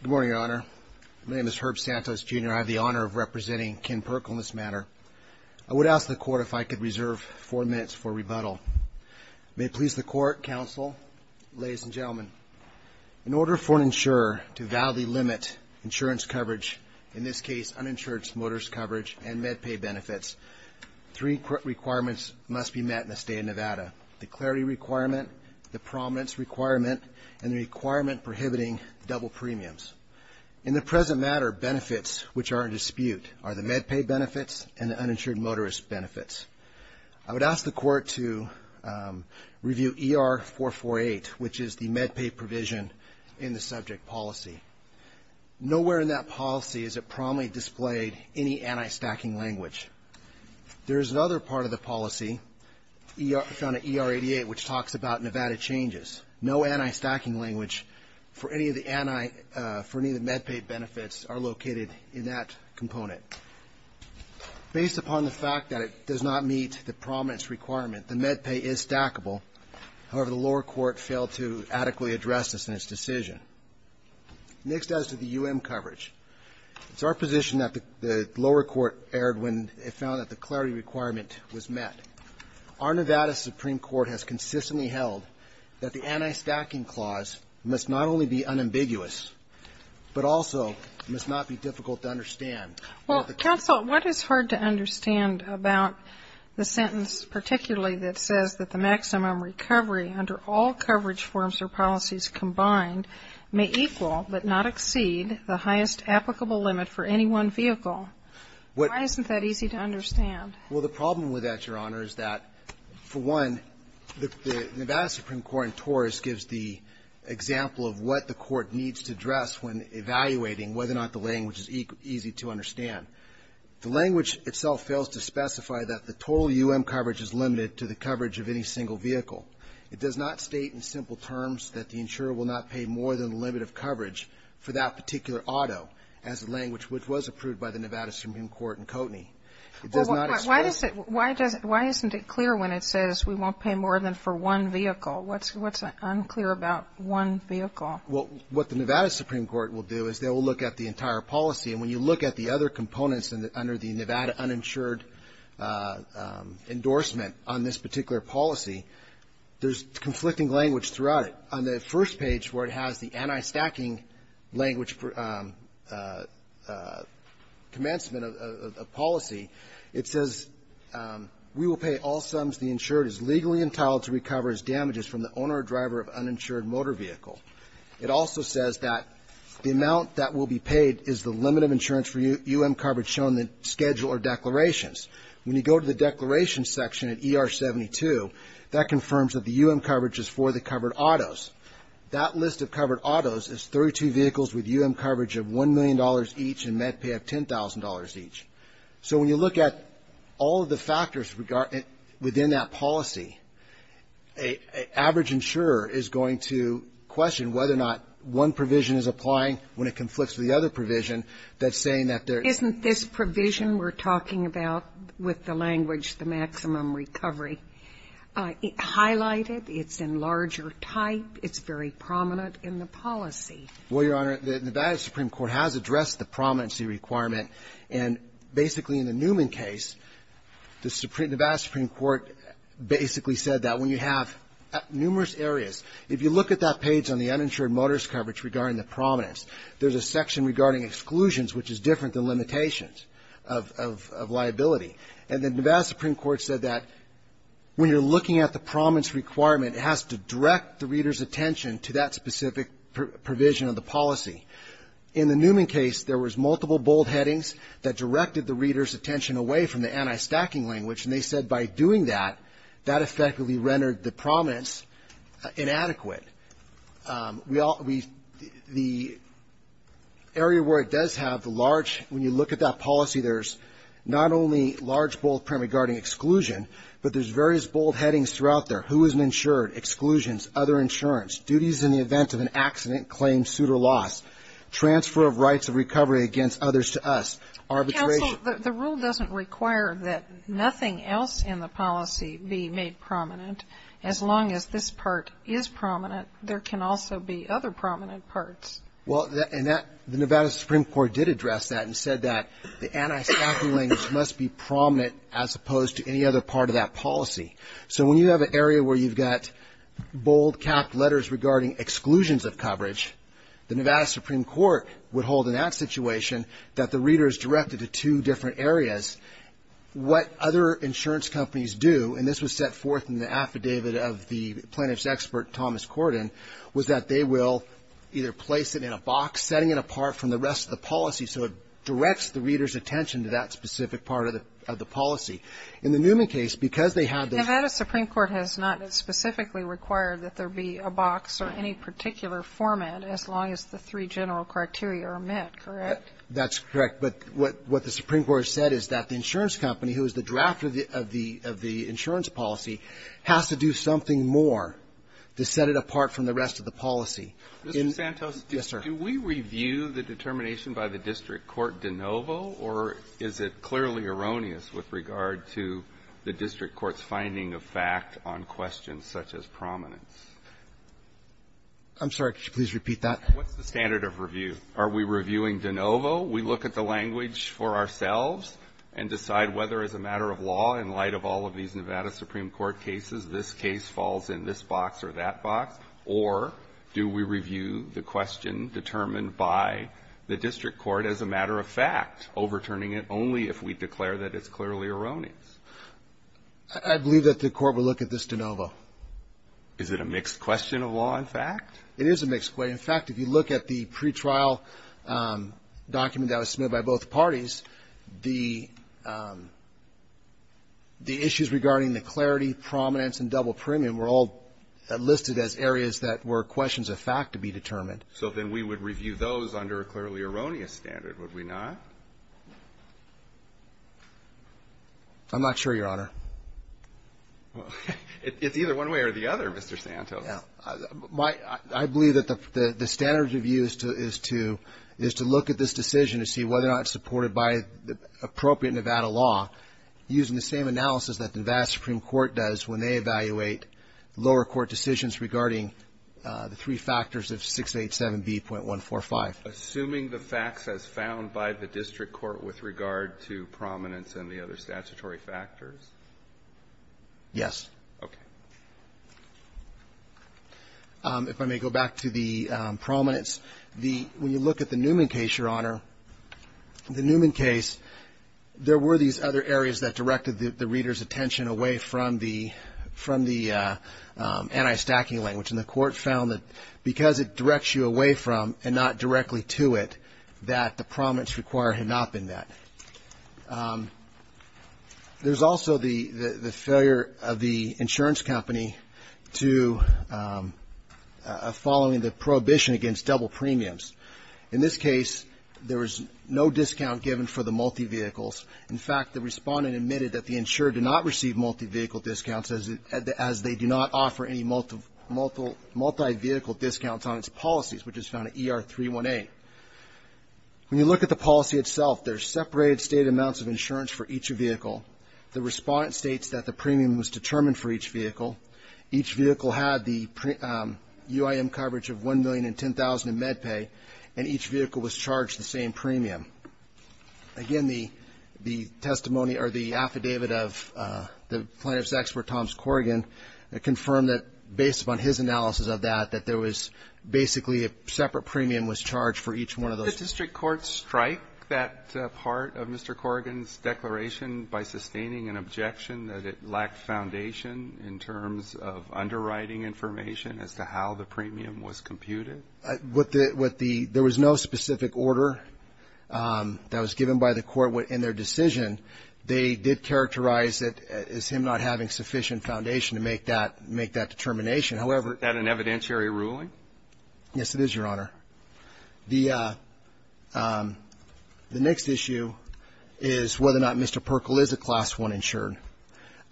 Good morning, Your Honor. My name is Herb Santos, Jr. I have the honor of representing Ken Perkle in this matter. I would ask the Court if I could reserve four minutes for rebuttal. May it please the Court, Counsel, ladies and gentlemen. In order for an insurer to validly limit insurance coverage, in this case uninsured motorist coverage and MedPay benefits, three requirements must be met in the State of Nevada. The clarity requirement, the prominence requirement, and the requirement prohibiting double premiums. In the present matter, benefits which are in dispute are the MedPay benefits and the uninsured motorist benefits. I would ask the Court to review ER-448, which is the MedPay provision in the subject policy. Nowhere in that policy is it prominently displayed any anti-stacking language. There is another part of the policy, found at ER-88, which talks about Nevada changes. No anti-stacking language for any of the MedPay benefits are located in that component. Based upon the fact that it does not meet the prominence requirement, the MedPay is stackable. However, the lower court failed to adequately address this in its decision. Next as to the UM coverage. It's our position that the lower court erred when it found that the clarity requirement was met. Our Nevada Supreme Court has consistently held that the anti-stacking clause must not only be unambiguous, but also must not be difficult to understand. Well, counsel, what is hard to understand about the sentence particularly that says that the maximum recovery under all coverage forms or policies combined may equal but not exceed the highest applicable limit for any one vehicle? Why isn't that easy to understand? Well, the problem with that, Your Honor, is that, for one, the Nevada Supreme Court in Taurus gives the example of what the court needs to address when evaluating whether or not the language is easy to understand. The language itself fails to specify that the total UM coverage is limited to the coverage of any single vehicle. It does not state in simple terms that the insurer will not pay more than the limit of coverage for that particular auto as the language which was approved by the Nevada Supreme Court in Koteny. It does not express the need for that. Why isn't it clear when it says we won't pay more than for one vehicle? What's unclear about one vehicle? Well, what the Nevada Supreme Court will do is they will look at the entire policy. And when you look at the other components under the Nevada uninsured endorsement on this particular policy, there's conflicting language throughout it. On the first page where it has the anti-stacking language commencement of policy, it says we will pay all sums the insured is legally entitled to recover as damages from the owner or driver of uninsured motor vehicle. It also says that the amount that will be paid is the limit of insurance for UM coverage shown in the schedule or declarations. When you go to the declarations section at ER 72, that confirms that the UM coverage is for the covered autos. That list of covered autos is 32 vehicles with UM coverage of $1 million each and MedPay of $10,000 each. So when you look at all of the factors within that policy, a average insurer is going to question whether or not one provision is applying when it conflicts with the other provision. That's saying that there's not this provision we're talking about with the language the maximum recovery highlighted. It's in larger type. It's very prominent in the policy. Well, Your Honor, the Nevada Supreme Court has addressed the prominency requirement. And basically in the Newman case, the Nevada Supreme Court basically said that when you have numerous areas, if you look at that page on the uninsured motors coverage regarding the prominence, there's a section regarding exclusions, which is different than limitations of liability. And the Nevada Supreme Court said that when you're looking at the prominence requirement, it has to direct the reader's attention to that specific provision of the policy. In the Newman case, there was multiple bold headings that directed the reader's attention away from the anti-stacking language. And they said by doing that, that effectively rendered the prominence inadequate. The area where it does have the large, when you look at that policy, there's not only large, bold print regarding exclusion, but there's various bold headings throughout there. Who isn't insured? Exclusions. Other insurance. Duties in the event of an accident, claim, suit, or loss. Transfer of rights of recovery against others to us. Arbitration. Counsel, the rule doesn't require that nothing else in the policy be made prominent. As long as this part is prominent, there can also be other prominent parts. Well, and that, the Nevada Supreme Court did address that and said that the anti-stacking language must be prominent as opposed to any other part of that policy. So when you have an area where you've got bold, capped letters regarding exclusions of coverage, the Nevada Supreme Court would hold in that situation that the reader is directed to two different areas. What other insurance companies do, and this was set forth in the affidavit of the plaintiff's expert, Thomas Corden, was that they will either place it in a box, setting it apart from the rest of the policy so it directs the reader's attention to that specific part of the policy. In the Newman case, because they had the ---- Nevada Supreme Court has not specifically required that there be a box or any particular format as long as the three general criteria are met, correct? That's correct. But what the Supreme Court has said is that the insurance company, who is the drafter of the insurance policy, has to do something more to set it apart from the rest of the policy. Mr. Santos? Yes, sir. Do we review the determination by the district court de novo, or is it clearly erroneous with regard to the district court's finding of fact on questions such as prominence? I'm sorry. Could you please repeat that? What's the standard of review? Are we reviewing de novo? We look at the language for ourselves and decide whether, as a matter of law, in light of all of these Nevada Supreme Court cases, this case falls in this box or that box, or do we review the question determined by the district court as a matter of fact, overturning it only if we declare that it's clearly erroneous? I believe that the court would look at this de novo. Is it a mixed question of law and fact? It is a mixed question. In fact, if you look at the pretrial document that was submitted by both parties, the issues regarding the clarity, prominence, and double premium were all listed as areas that were questions of fact to be determined. So then we would review those under a clearly erroneous standard, would we not? I'm not sure, Your Honor. It's either one way or the other, Mr. Santos. I believe that the standard of review is to look at this decision to see whether or not it's supported by appropriate Nevada law using the same analysis that the Nevada Supreme Court does when they evaluate lower court decisions regarding the three factors of 687B.145. Assuming the facts as found by the district court with regard to prominence and the other statutory factors? Yes. Okay. If I may go back to the prominence. When you look at the Newman case, Your Honor, the Newman case, there were these other areas that directed the reader's attention away from the anti-stacking language, and the court found that because it directs you away from and not directly to it, that the prominence required had not been met. There's also the failure of the insurance company to following the prohibition against double premiums. In this case, there was no discount given for the multi-vehicles. In fact, the respondent admitted that the insurer did not receive multi-vehicle discounts as they do not offer any multi-vehicle discounts on its policies, which is found in ER-318. When you look at the policy itself, there's separated state amounts of insurance for each vehicle. The respondent states that the premium was determined for each vehicle. Each vehicle had the UIM coverage of $1 million and $10,000 in MedPay, and each vehicle was charged the same premium. Again, the testimony or the affidavit of the plaintiff's expert, Thomas Corrigan, confirmed that based upon his analysis of that, that there was basically a separate premium was charged for each one of those. The district courts strike that part of Mr. Corrigan's declaration by sustaining an objection that it lacked foundation in terms of underwriting information as to how the premium was computed? With the — with the — there was no specific order that was given by the court in their decision. They did characterize it as him not having sufficient foundation to make that — make that determination. However — Is that an evidentiary ruling? Yes, it is, Your Honor. The next issue is whether or not Mr. Perkle is a Class I insured.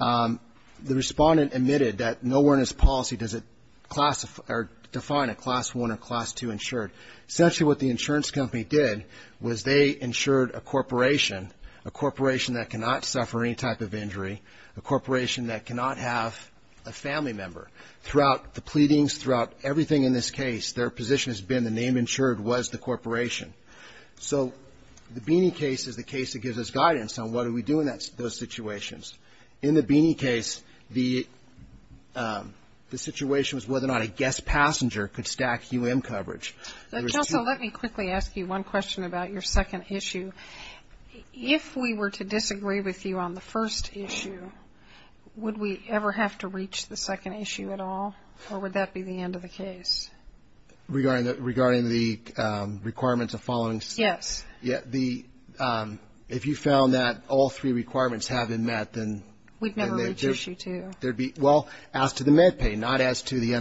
The respondent admitted that nowhere in his policy does it classify or define a Class I or Class II insured. Essentially what the insurance company did was they insured a corporation, a corporation that cannot suffer any type of injury, a corporation that cannot have a family member. Throughout the pleadings, throughout everything in this case, their position has been the name insured was the corporation. So the Beeney case is the case that gives us guidance on what do we do in those situations. In the Beeney case, the situation was whether or not a guest passenger could stack U.M. coverage. There was two — Justice, let me quickly ask you one question about your second issue. If we were to disagree with you on the first issue, would we ever have to reach the second issue at all, or would that be the end of the case? Regarding the — regarding the requirements of following — Yes. If you found that all three requirements have been met, then — We'd never reach issue two. Well, as to the MedPay, not as to the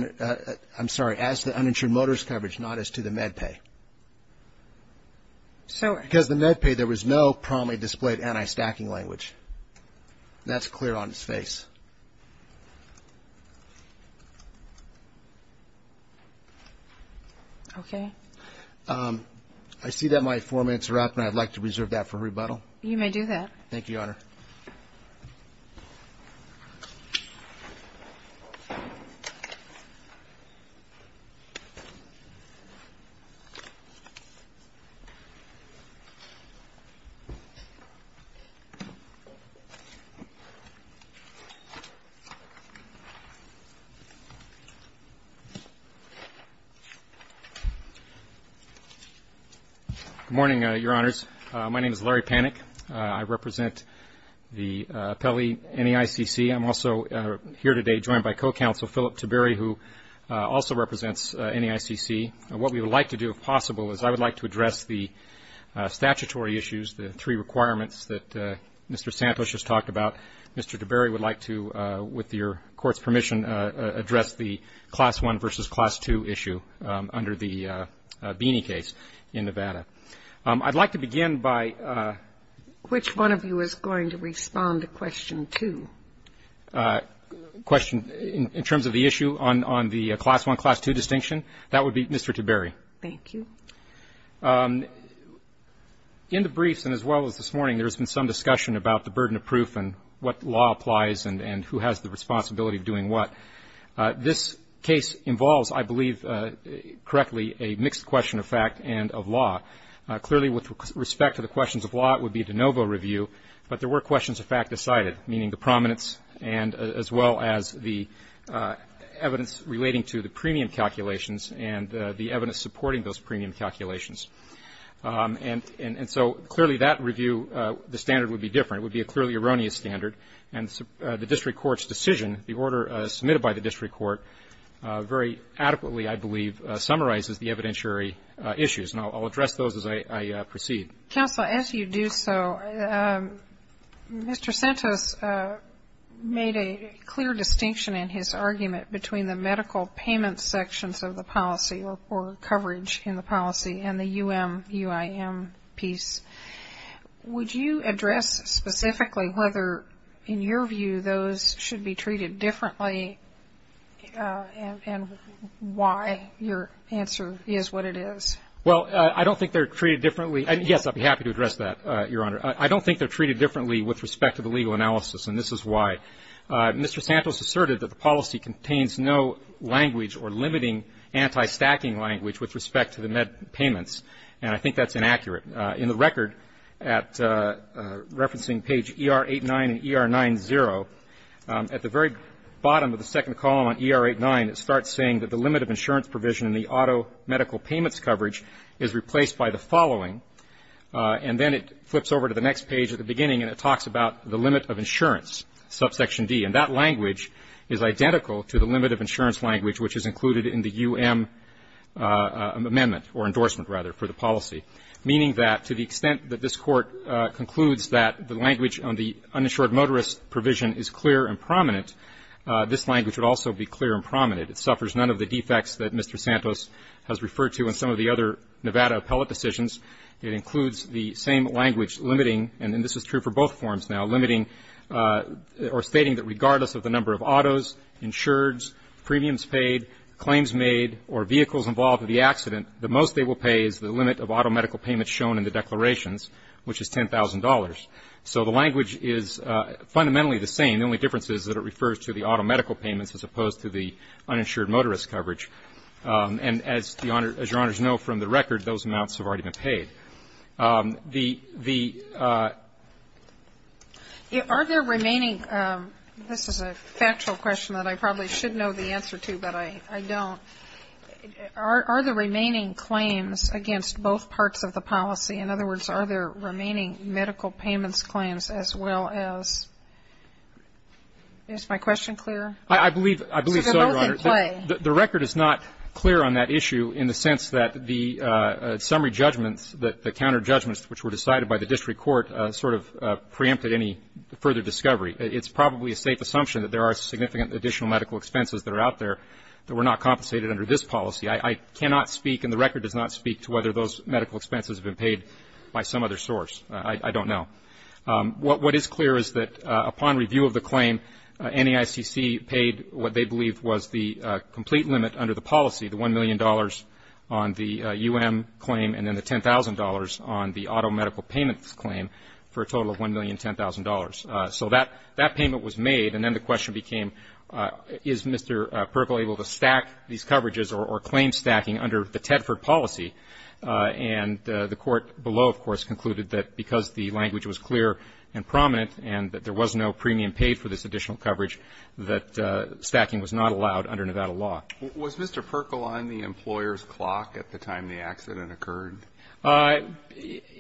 — I'm sorry, as to the uninsured motorist coverage, not as to the MedPay. Because the MedPay, there was no promptly displayed anti-stacking language. That's clear on its face. Okay. I see that my four minutes are up, and I'd like to reserve that for rebuttal. You may do that. Good morning, Your Honors. My name is Larry Panik. I represent the appellee NEICC. I'm also here today joined by co-counsel Philip Tiberi, who also represents NEICC. What we would like to do, if possible, is I would like to address the statutory issues, the three requirements that Mr. Santos just talked about. Mr. Tiberi would like to, with your court's permission, address the class one versus class two issue under the Beeney case in Nevada. I'd like to begin by — Which one of you is going to respond to question two? Question, in terms of the issue on the class one, class two distinction, that would be Mr. Tiberi. Thank you. In the briefs and as well as this morning, there has been some discussion about the burden of proof and what law applies and who has the responsibility of doing what. This case involves, I believe correctly, a mixed question of fact and of law. Clearly, with respect to the questions of law, it would be a de novo review, but there were questions of fact decided, meaning the prominence and as well as the evidence relating to the premium calculations and the evidence supporting those premium calculations. And so clearly that review, the standard would be different. It would be a clearly erroneous standard. And the district court's decision, the order submitted by the district court, very adequately, I believe, summarizes the evidentiary issues. And I'll address those as I proceed. Counsel, as you do so, Mr. Santos made a clear distinction in his argument between the medical payment sections of the policy or coverage in the policy and the U.M., U.I.M. piece. Would you address specifically whether, in your view, those should be treated differently and why your answer is what it is? Well, I don't think they're treated differently. Yes, I'd be happy to address that, Your Honor. I don't think they're treated differently with respect to the legal analysis, and this is why. Mr. Santos asserted that the policy contains no language or limiting anti-stacking language with respect to the med payments, and I think that's inaccurate. In the record at referencing page ER-89 and ER-90, at the very bottom of the second column on ER-89, it starts saying that the limit of insurance provision in the auto medical payments coverage is replaced by the following. And then it flips over to the next page at the beginning, and it talks about the limit of insurance, subsection D. And that language is identical to the limit of insurance language, which is included in the U.M. amendment, or endorsement, rather, for the policy, meaning that to the extent that this Court concludes that the language on the uninsured motorist provision is clear and prominent, this language would also be clear and prominent. It suffers none of the defects that Mr. Santos has referred to in some of the other Nevada appellate decisions. It includes the same language limiting, and this is true for both forms now, limiting or stating that regardless of the number of autos, insureds, premiums paid, claims made, or vehicles involved in the accident, the most they will pay is the limit of auto medical payments shown in the declarations, which is $10,000. So the language is fundamentally the same. The only difference is that it refers to the auto medical payments as opposed to the uninsured motorist coverage. And as Your Honors know from the record, those amounts have already been paid. The ---- This is a factual question that I probably should know the answer to, but I don't. Are the remaining claims against both parts of the policy, in other words, are there remaining medical payments claims as well as ---- Is my question clear? I believe so, Your Honor. So they're both in play. The record is not clear on that issue in the sense that the summary judgments, the counter judgments which were decided by the district court sort of preempted any further discovery. It's probably a safe assumption that there are significant additional medical expenses that are out there that were not compensated under this policy. I cannot speak and the record does not speak to whether those medical expenses have been paid by some other source. I don't know. What is clear is that upon review of the claim, NEICC paid what they believed was the complete limit under the policy, the $1 million on the U.M. claim and then the $10,000 on the auto medical payments claim for a total of $1,010,000. So that payment was made and then the question became is Mr. Perkle able to stack these coverages or claim stacking under the Tedford policy? And the court below, of course, concluded that because the language was clear and prominent and that there was no premium paid for this additional coverage, that stacking was not allowed under Nevada law. Was Mr. Perkle on the employer's clock at the time the accident occurred?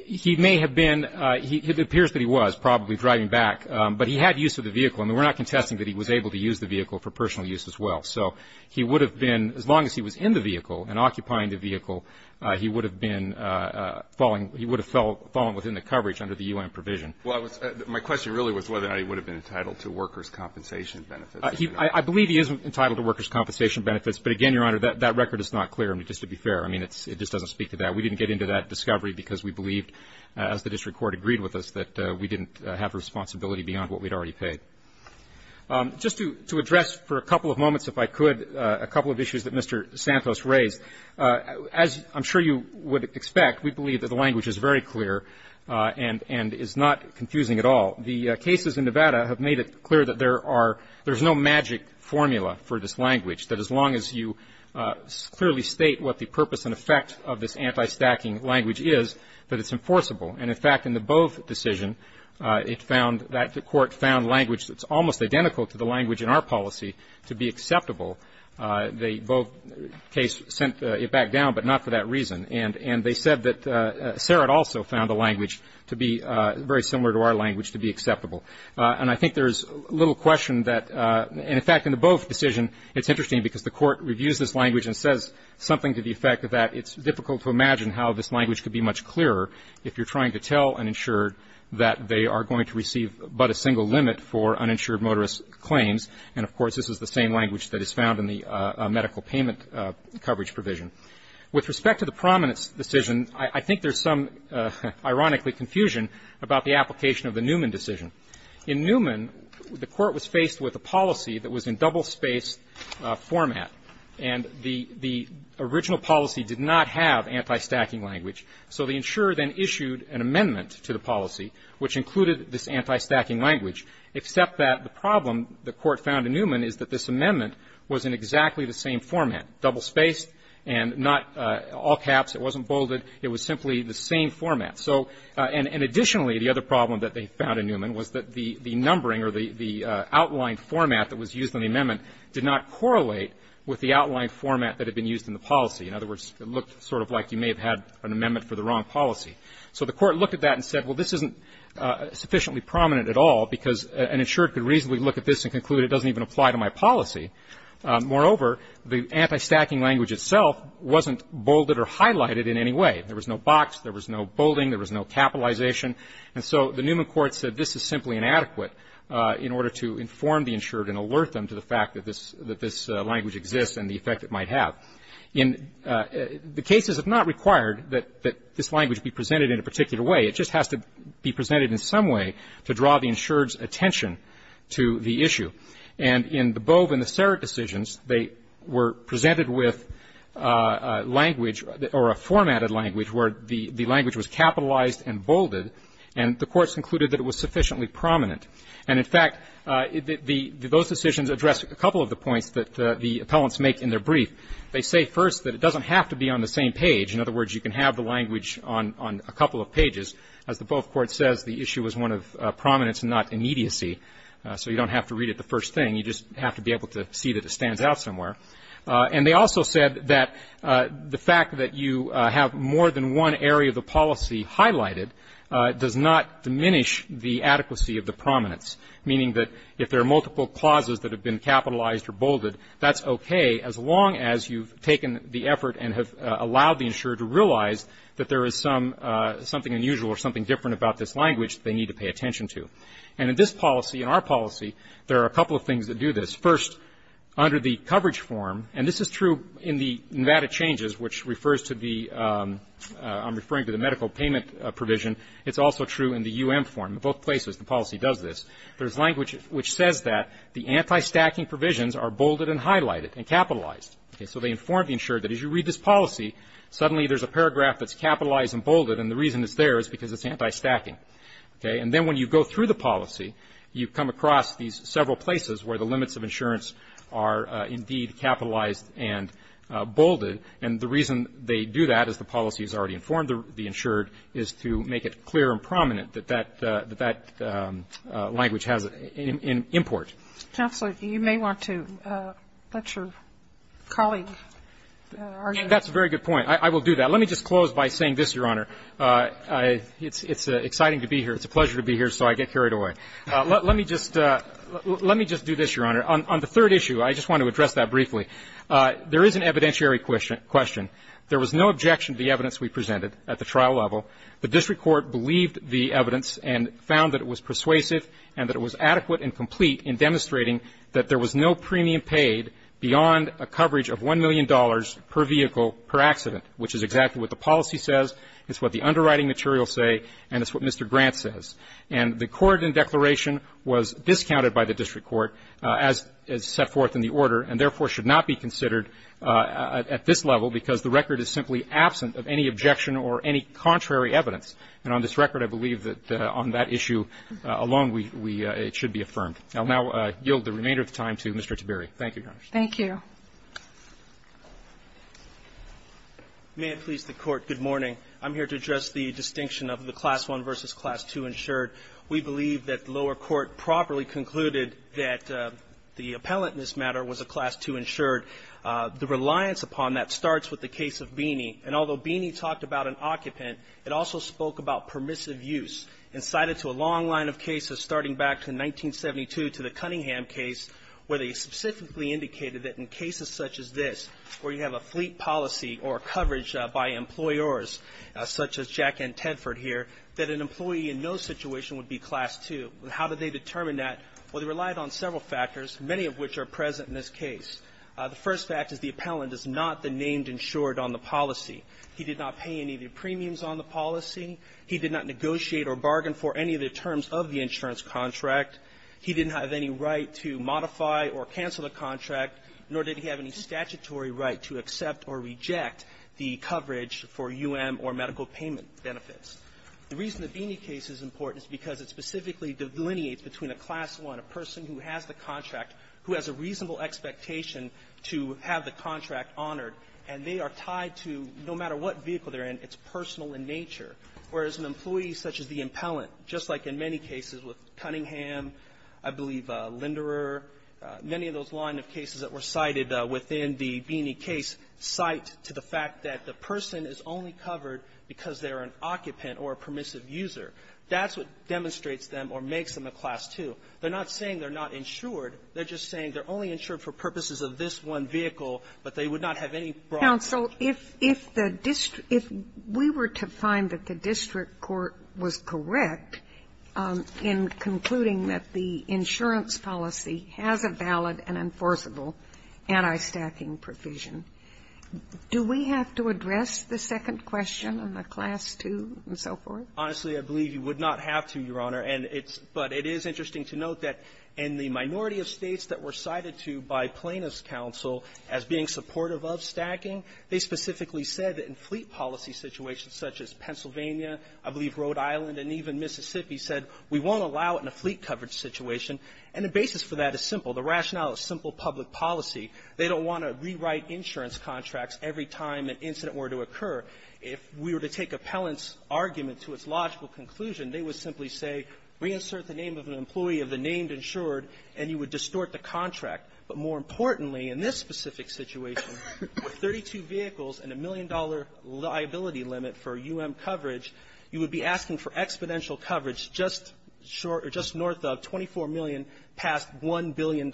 He may have been. It appears that he was probably driving back, but he had use of the vehicle. I mean, we're not contesting that he was able to use the vehicle for personal use as well. So he would have been, as long as he was in the vehicle and occupying the vehicle, he would have been falling, he would have fallen within the coverage under the U.N. provision. Well, my question really was whether or not he would have been entitled to workers' compensation benefits. I believe he is entitled to workers' compensation benefits, but again, Your Honor, that record is not clear. I mean, just to be fair. I mean, it just doesn't speak to that. We didn't get into that discovery because we believed, as the district court agreed with us, that we didn't have responsibility beyond what we had already paid. Just to address for a couple of moments, if I could, a couple of issues that Mr. Santos raised. As I'm sure you would expect, we believe that the language is very clear and is not confusing at all. The cases in Nevada have made it clear that there are no magic formula for this language, that as long as you clearly state what the purpose and effect of this anti-stacking language is, that it's enforceable. And in fact, in the Bove decision, it found that the court found language that's almost identical to the language in our policy to be acceptable. The Bove case sent it back down, but not for that reason. And they said that Sarat also found the language to be very similar to our language to be acceptable. And I think there's little question that — and in fact, in the Bove decision, it's interesting because the court reviews this language and says something to the effect that it's difficult to imagine how this language could be much clearer if you're trying to tell an insured that they are going to receive but a single limit for uninsured motorist claims. And of course, this is the same language that is found in the medical payment coverage provision. With respect to the Prominence decision, I think there's some, ironically, confusion about the application of the Newman decision. In Newman, the court was faced with a policy that was in double-spaced format. And the original policy did not have anti-stacking language. So the insurer then issued an amendment to the policy which included this anti-stacking language, except that the problem the court found in Newman is that this amendment was in exactly the same format, double-spaced and not all caps. It wasn't bolded. It was simply the same format. So — and additionally, the other problem that they found in Newman was that the numbering or the outlined format that was used in the amendment did not correlate with the outlined format that had been used in the policy. In other words, it looked sort of like you may have had an amendment for the wrong policy. So the court looked at that and said, well, this isn't sufficiently prominent at all because an insured could reasonably look at this and conclude it doesn't even apply to my policy. Moreover, the anti-stacking language itself wasn't bolded or highlighted in any way. There was no box. There was no bolding. There was no capitalization. And so the Newman court said this is simply inadequate in order to inform the insured and alert them to the fact that this — that this language exists and the effect it might have. In the cases, it's not required that this language be presented in a particular way. It just has to be presented in some way to draw the insured's attention to the issue. And in the Bove and the Serrett decisions, they were presented with language or a formatted language where the language was capitalized and bolded. And the courts concluded that it was sufficiently prominent. And, in fact, those decisions address a couple of the points that the appellants make in their brief. They say first that it doesn't have to be on the same page. In other words, you can have the language on a couple of pages. As the Bove court says, the issue is one of prominence and not immediacy. So you don't have to read it the first thing. You just have to be able to see that it stands out somewhere. And they also said that the fact that you have more than one area of the policy highlighted does not diminish the adequacy of the prominence, meaning that if there are multiple clauses that have been capitalized or bolded, that's okay as long as you've taken the effort and have allowed the insured to realize that there is some — something unusual or something different about this language they need to pay attention to. And in this policy, in our policy, there are a couple of things that do this. First, under the coverage form, and this is true in the Nevada changes, which refers to the — I'm referring to the medical payment provision. It's also true in the U.M. form. Both places the policy does this. There's language which says that the anti-stacking provisions are bolded and highlighted and capitalized. So they inform the insured that as you read this policy, suddenly there's a paragraph that's capitalized and bolded, and the reason it's there is because it's anti-stacking. Okay? And then when you go through the policy, you come across these several places where the limits of insurance are indeed capitalized and bolded, and the reason they do that as the policy has already informed the insured is to make it clear and prominent that that — that that language has an import. Counsel, you may want to let your colleague argue. That's a very good point. I will do that. Let me just close by saying this, Your Honor. It's exciting to be here. It's a pleasure to be here, so I get carried away. Let me just — let me just do this, Your Honor. On the third issue, I just want to address that briefly. There is an evidentiary question. There was no objection to the evidence we presented at the trial level. The district court believed the evidence and found that it was persuasive and that it was adequate and complete in demonstrating that there was no premium paid beyond a coverage of $1 million per vehicle per accident, which is exactly what the policy says, it's what the underwriting materials say, and it's what Mr. Grant says. And the court in declaration was discounted by the district court, as set forth in the order, and therefore should not be considered at this level because the record is simply absent of any objection or any contrary evidence. And on this record, I believe that on that issue alone, we — it should be affirmed. I will now yield the remainder of the time to Mr. Tiberi. Thank you, Your Honor. Thank you. May it please the Court, good morning. I'm here to address the distinction of the Class I versus Class II insured. We believe that the lower court properly concluded that the appellant in this matter was a Class II insured. The reliance upon that starts with the case of Beeney, and although Beeney talked about an occupant, it also spoke about permissive use and cited to a long line of cases starting back in 1972 to the Cunningham case, where they specifically indicated that in cases such as this, where you have a fleet policy or coverage by employers such as Jack and Tedford here, that an employee in no situation would be Class II. How did they determine that? Well, they relied on several factors, many of which are present in this case. The first fact is the appellant is not the named insured on the policy. He did not pay any of the premiums on the policy. He did not negotiate or bargain for any of the terms of the insurance contract. He didn't have any right to modify or cancel the contract, nor did he have any statutory right to accept or reject the coverage for U.M. or medical payment benefits. The reason the Beeney case is important is because it specifically delineates between a Class I, a person who has the contract, who has a reasonable expectation to have the contract honored, and they are tied to, no matter what vehicle they're in, it's personal in nature, whereas an employee such as the appellant, just like in many cases with Cunningham, I believe Linderer, many of those line of cases that were cited within the Beeney case cite to the fact that the person is only covered because they're an occupant or a permissive user. That's what demonstrates them or makes them a Class II. They're not saying they're not insured. They're just saying they're only insured for purposes of this one vehicle, but they would not have any broad coverage. Sotomayor, if the district – if we were to find that the district court was correct in concluding that the insurance policy has a valid and enforceable anti-stacking provision, do we have to address the second question on the Class II and so forth? Honestly, I believe you would not have to, Your Honor. And it's – but it is interesting to note that in the minority of States that were looking at the Federal Service Council as being supportive of stacking, they specifically said that in fleet policy situations such as Pennsylvania, I believe Rhode Island, and even Mississippi, said we won't allow it in a fleet coverage situation. And the basis for that is simple. The rationale is simple public policy. They don't want to rewrite insurance contracts every time an incident were to occur. If we were to take appellant's argument to its logical conclusion, they would simply say, reinsert the name of an employee of the named insured, and you would distort the contract. But more importantly, in this specific situation, with 32 vehicles and a million-dollar liability limit for U.M. coverage, you would be asking for exponential coverage just short – or just north of 24 million past $1 billion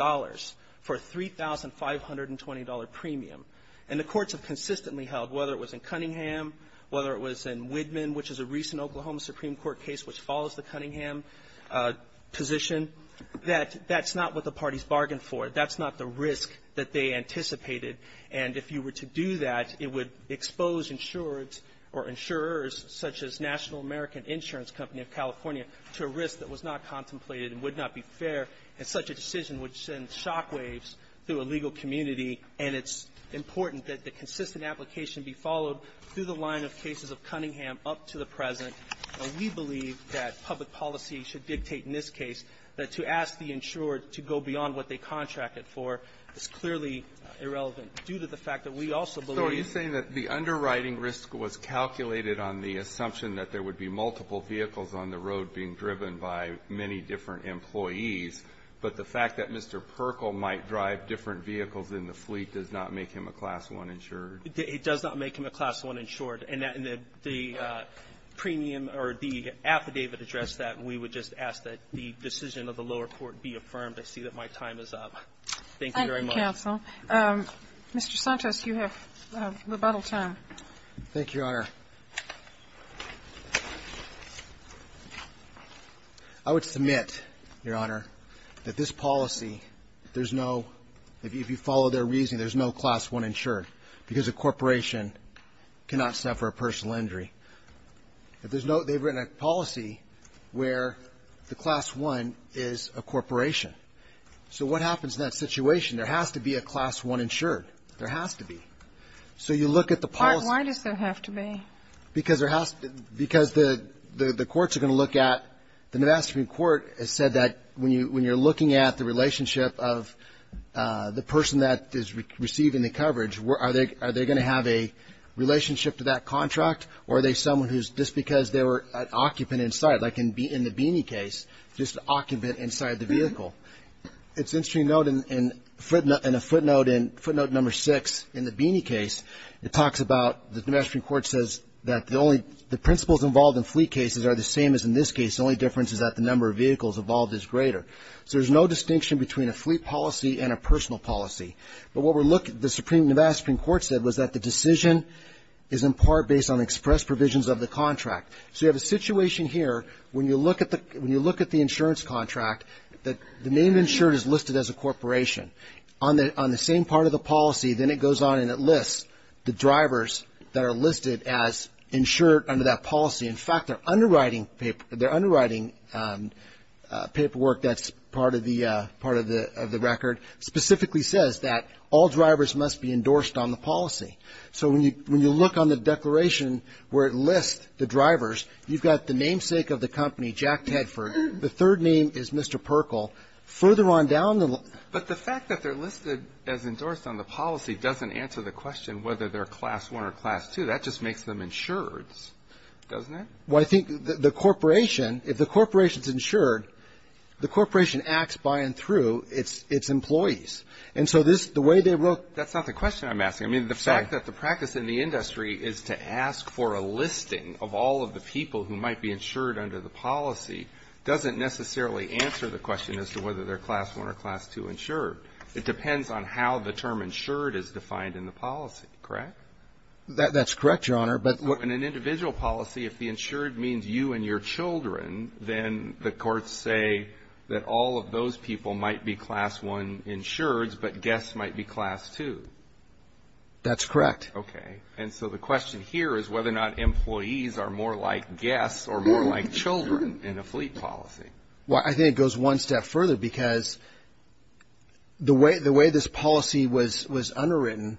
for a $3,520 premium. And the courts have consistently held, whether it was in Cunningham, whether it was in Whitman, which is a recent Oklahoma Supreme Court case which follows the Cunningham position, that that's not what the parties bargained for. That's not the risk that they anticipated. And if you were to do that, it would expose insureds or insurers such as National American Insurance Company of California to a risk that was not contemplated and would not be fair, and such a decision would send shockwaves through a legal community. And it's important that the consistent application be followed through the line of cases of Cunningham up to the present. And we believe that public policy should dictate in this case that to ask the insured to go beyond what they contracted for is clearly irrelevant, due to the fact that we also believe the underwriting risk was calculated on the assumption that there would be multiple vehicles on the road being driven by many different employees. But the fact that Mr. Perkle might drive different vehicles in the fleet does not make him a Class I insured. It does not make him a Class I insured. And the premium or the affidavit addressed that. And we would just ask that the decision of the lower court be affirmed. I see that my time is up. Thank you very much. Thank you, counsel. Mr. Santos, you have rebuttal time. Thank you, Your Honor. I would submit, Your Honor, that this policy, there's no – if you follow their reasoning, there's no Class I insured because a corporation cannot suffer a personal injury. If there's no – they've written a policy where the Class I is a corporation. So what happens in that situation? There has to be a Class I insured. There has to be. So you look at the policy – Why does there have to be? Because there has – because the courts are going to look at – the Nevada Supreme Court has said that when you're looking at the relationship of the person that is receiving the coverage, are they going to have a relationship to that contract? Or are they someone who's just because they were an occupant inside, like in the Beanie case, just an occupant inside the vehicle? It's interesting to note in a footnote in footnote number six in the Beanie case, it talks about – the Nevada Supreme Court says that the only – the principles involved in fleet cases are the same as in this case. The only difference is that the number of vehicles involved is greater. So there's no distinction between a fleet policy and a personal policy. But what we're looking – the Nevada Supreme Court said was that the decision is in part based on express provisions of the contract. So you have a situation here when you look at the insurance contract that the name insured is listed as a corporation. On the same part of the policy, then it goes on and it lists the drivers that are listed as insured under that policy. In fact, their underwriting – their underwriting paperwork that's part of the – part of the record specifically says that all drivers must be endorsed on the policy. So when you look on the declaration where it lists the drivers, you've got the namesake of the company, Jack Tedford. The third name is Mr. Perkle. Further on down the – But the fact that they're listed as endorsed on the policy doesn't answer the question whether they're Class I or Class II. That just makes them insureds, doesn't it? Well, I think the corporation – if the corporation's insured, the corporation acts by and through its employees. And so this – the way they wrote – That's not the question I'm asking. I mean, the fact that the practice in the industry is to ask for a listing of all of the people who might be insured under the policy doesn't necessarily answer the question as to whether they're Class I or Class II insured. It depends on how the term insured is defined in the policy, correct? That's correct, Your Honor. But – So in an individual policy, if the insured means you and your children, then the courts say that all of those people might be Class I insureds, but guests might be Class II. That's correct. Okay. And so the question here is whether or not employees are more like guests or more like children in a fleet policy. Well, I think it goes one step further because the way this policy was underwritten,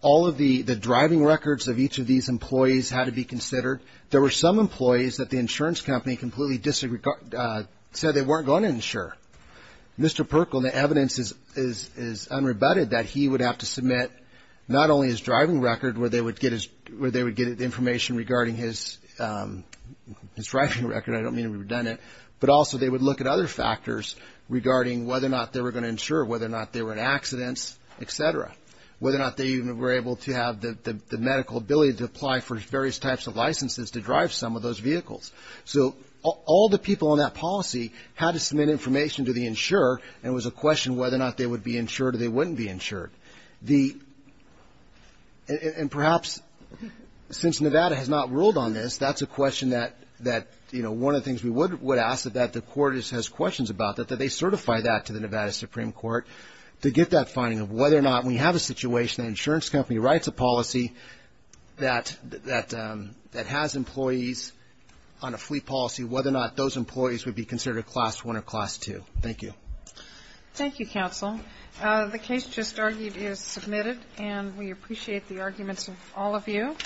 all of the driving records of each of these employees had to be considered. There were some employees that the insurance company completely said they weren't going to insure. Mr. Perkle, the evidence is unrebutted that he would have to submit not only his driving record where they would get his – where they would get information regarding his driving record. I don't mean to redundant, but also they would look at other factors regarding whether or not they were going to insure, whether or not they were in accidents, et cetera, whether or not they even were able to have the medical ability to apply for various types of licenses to drive some of those vehicles. So all the people on that policy had to submit information to the insurer, and it was a question whether or not they would be insured or they wouldn't be insured. The – and perhaps since Nevada has not ruled on this, that's a question that, you know, one of the things we would ask that the court has questions about, that they certify that to the Nevada Supreme Court to get that finding of whether or not we have a situation that an insurance company writes a policy that has employees on a fleet policy, whether or not those employees would be considered a Class I or Class II. Thank you. Thank you, counsel. The case just argued is submitted, and we appreciate the arguments of all of you.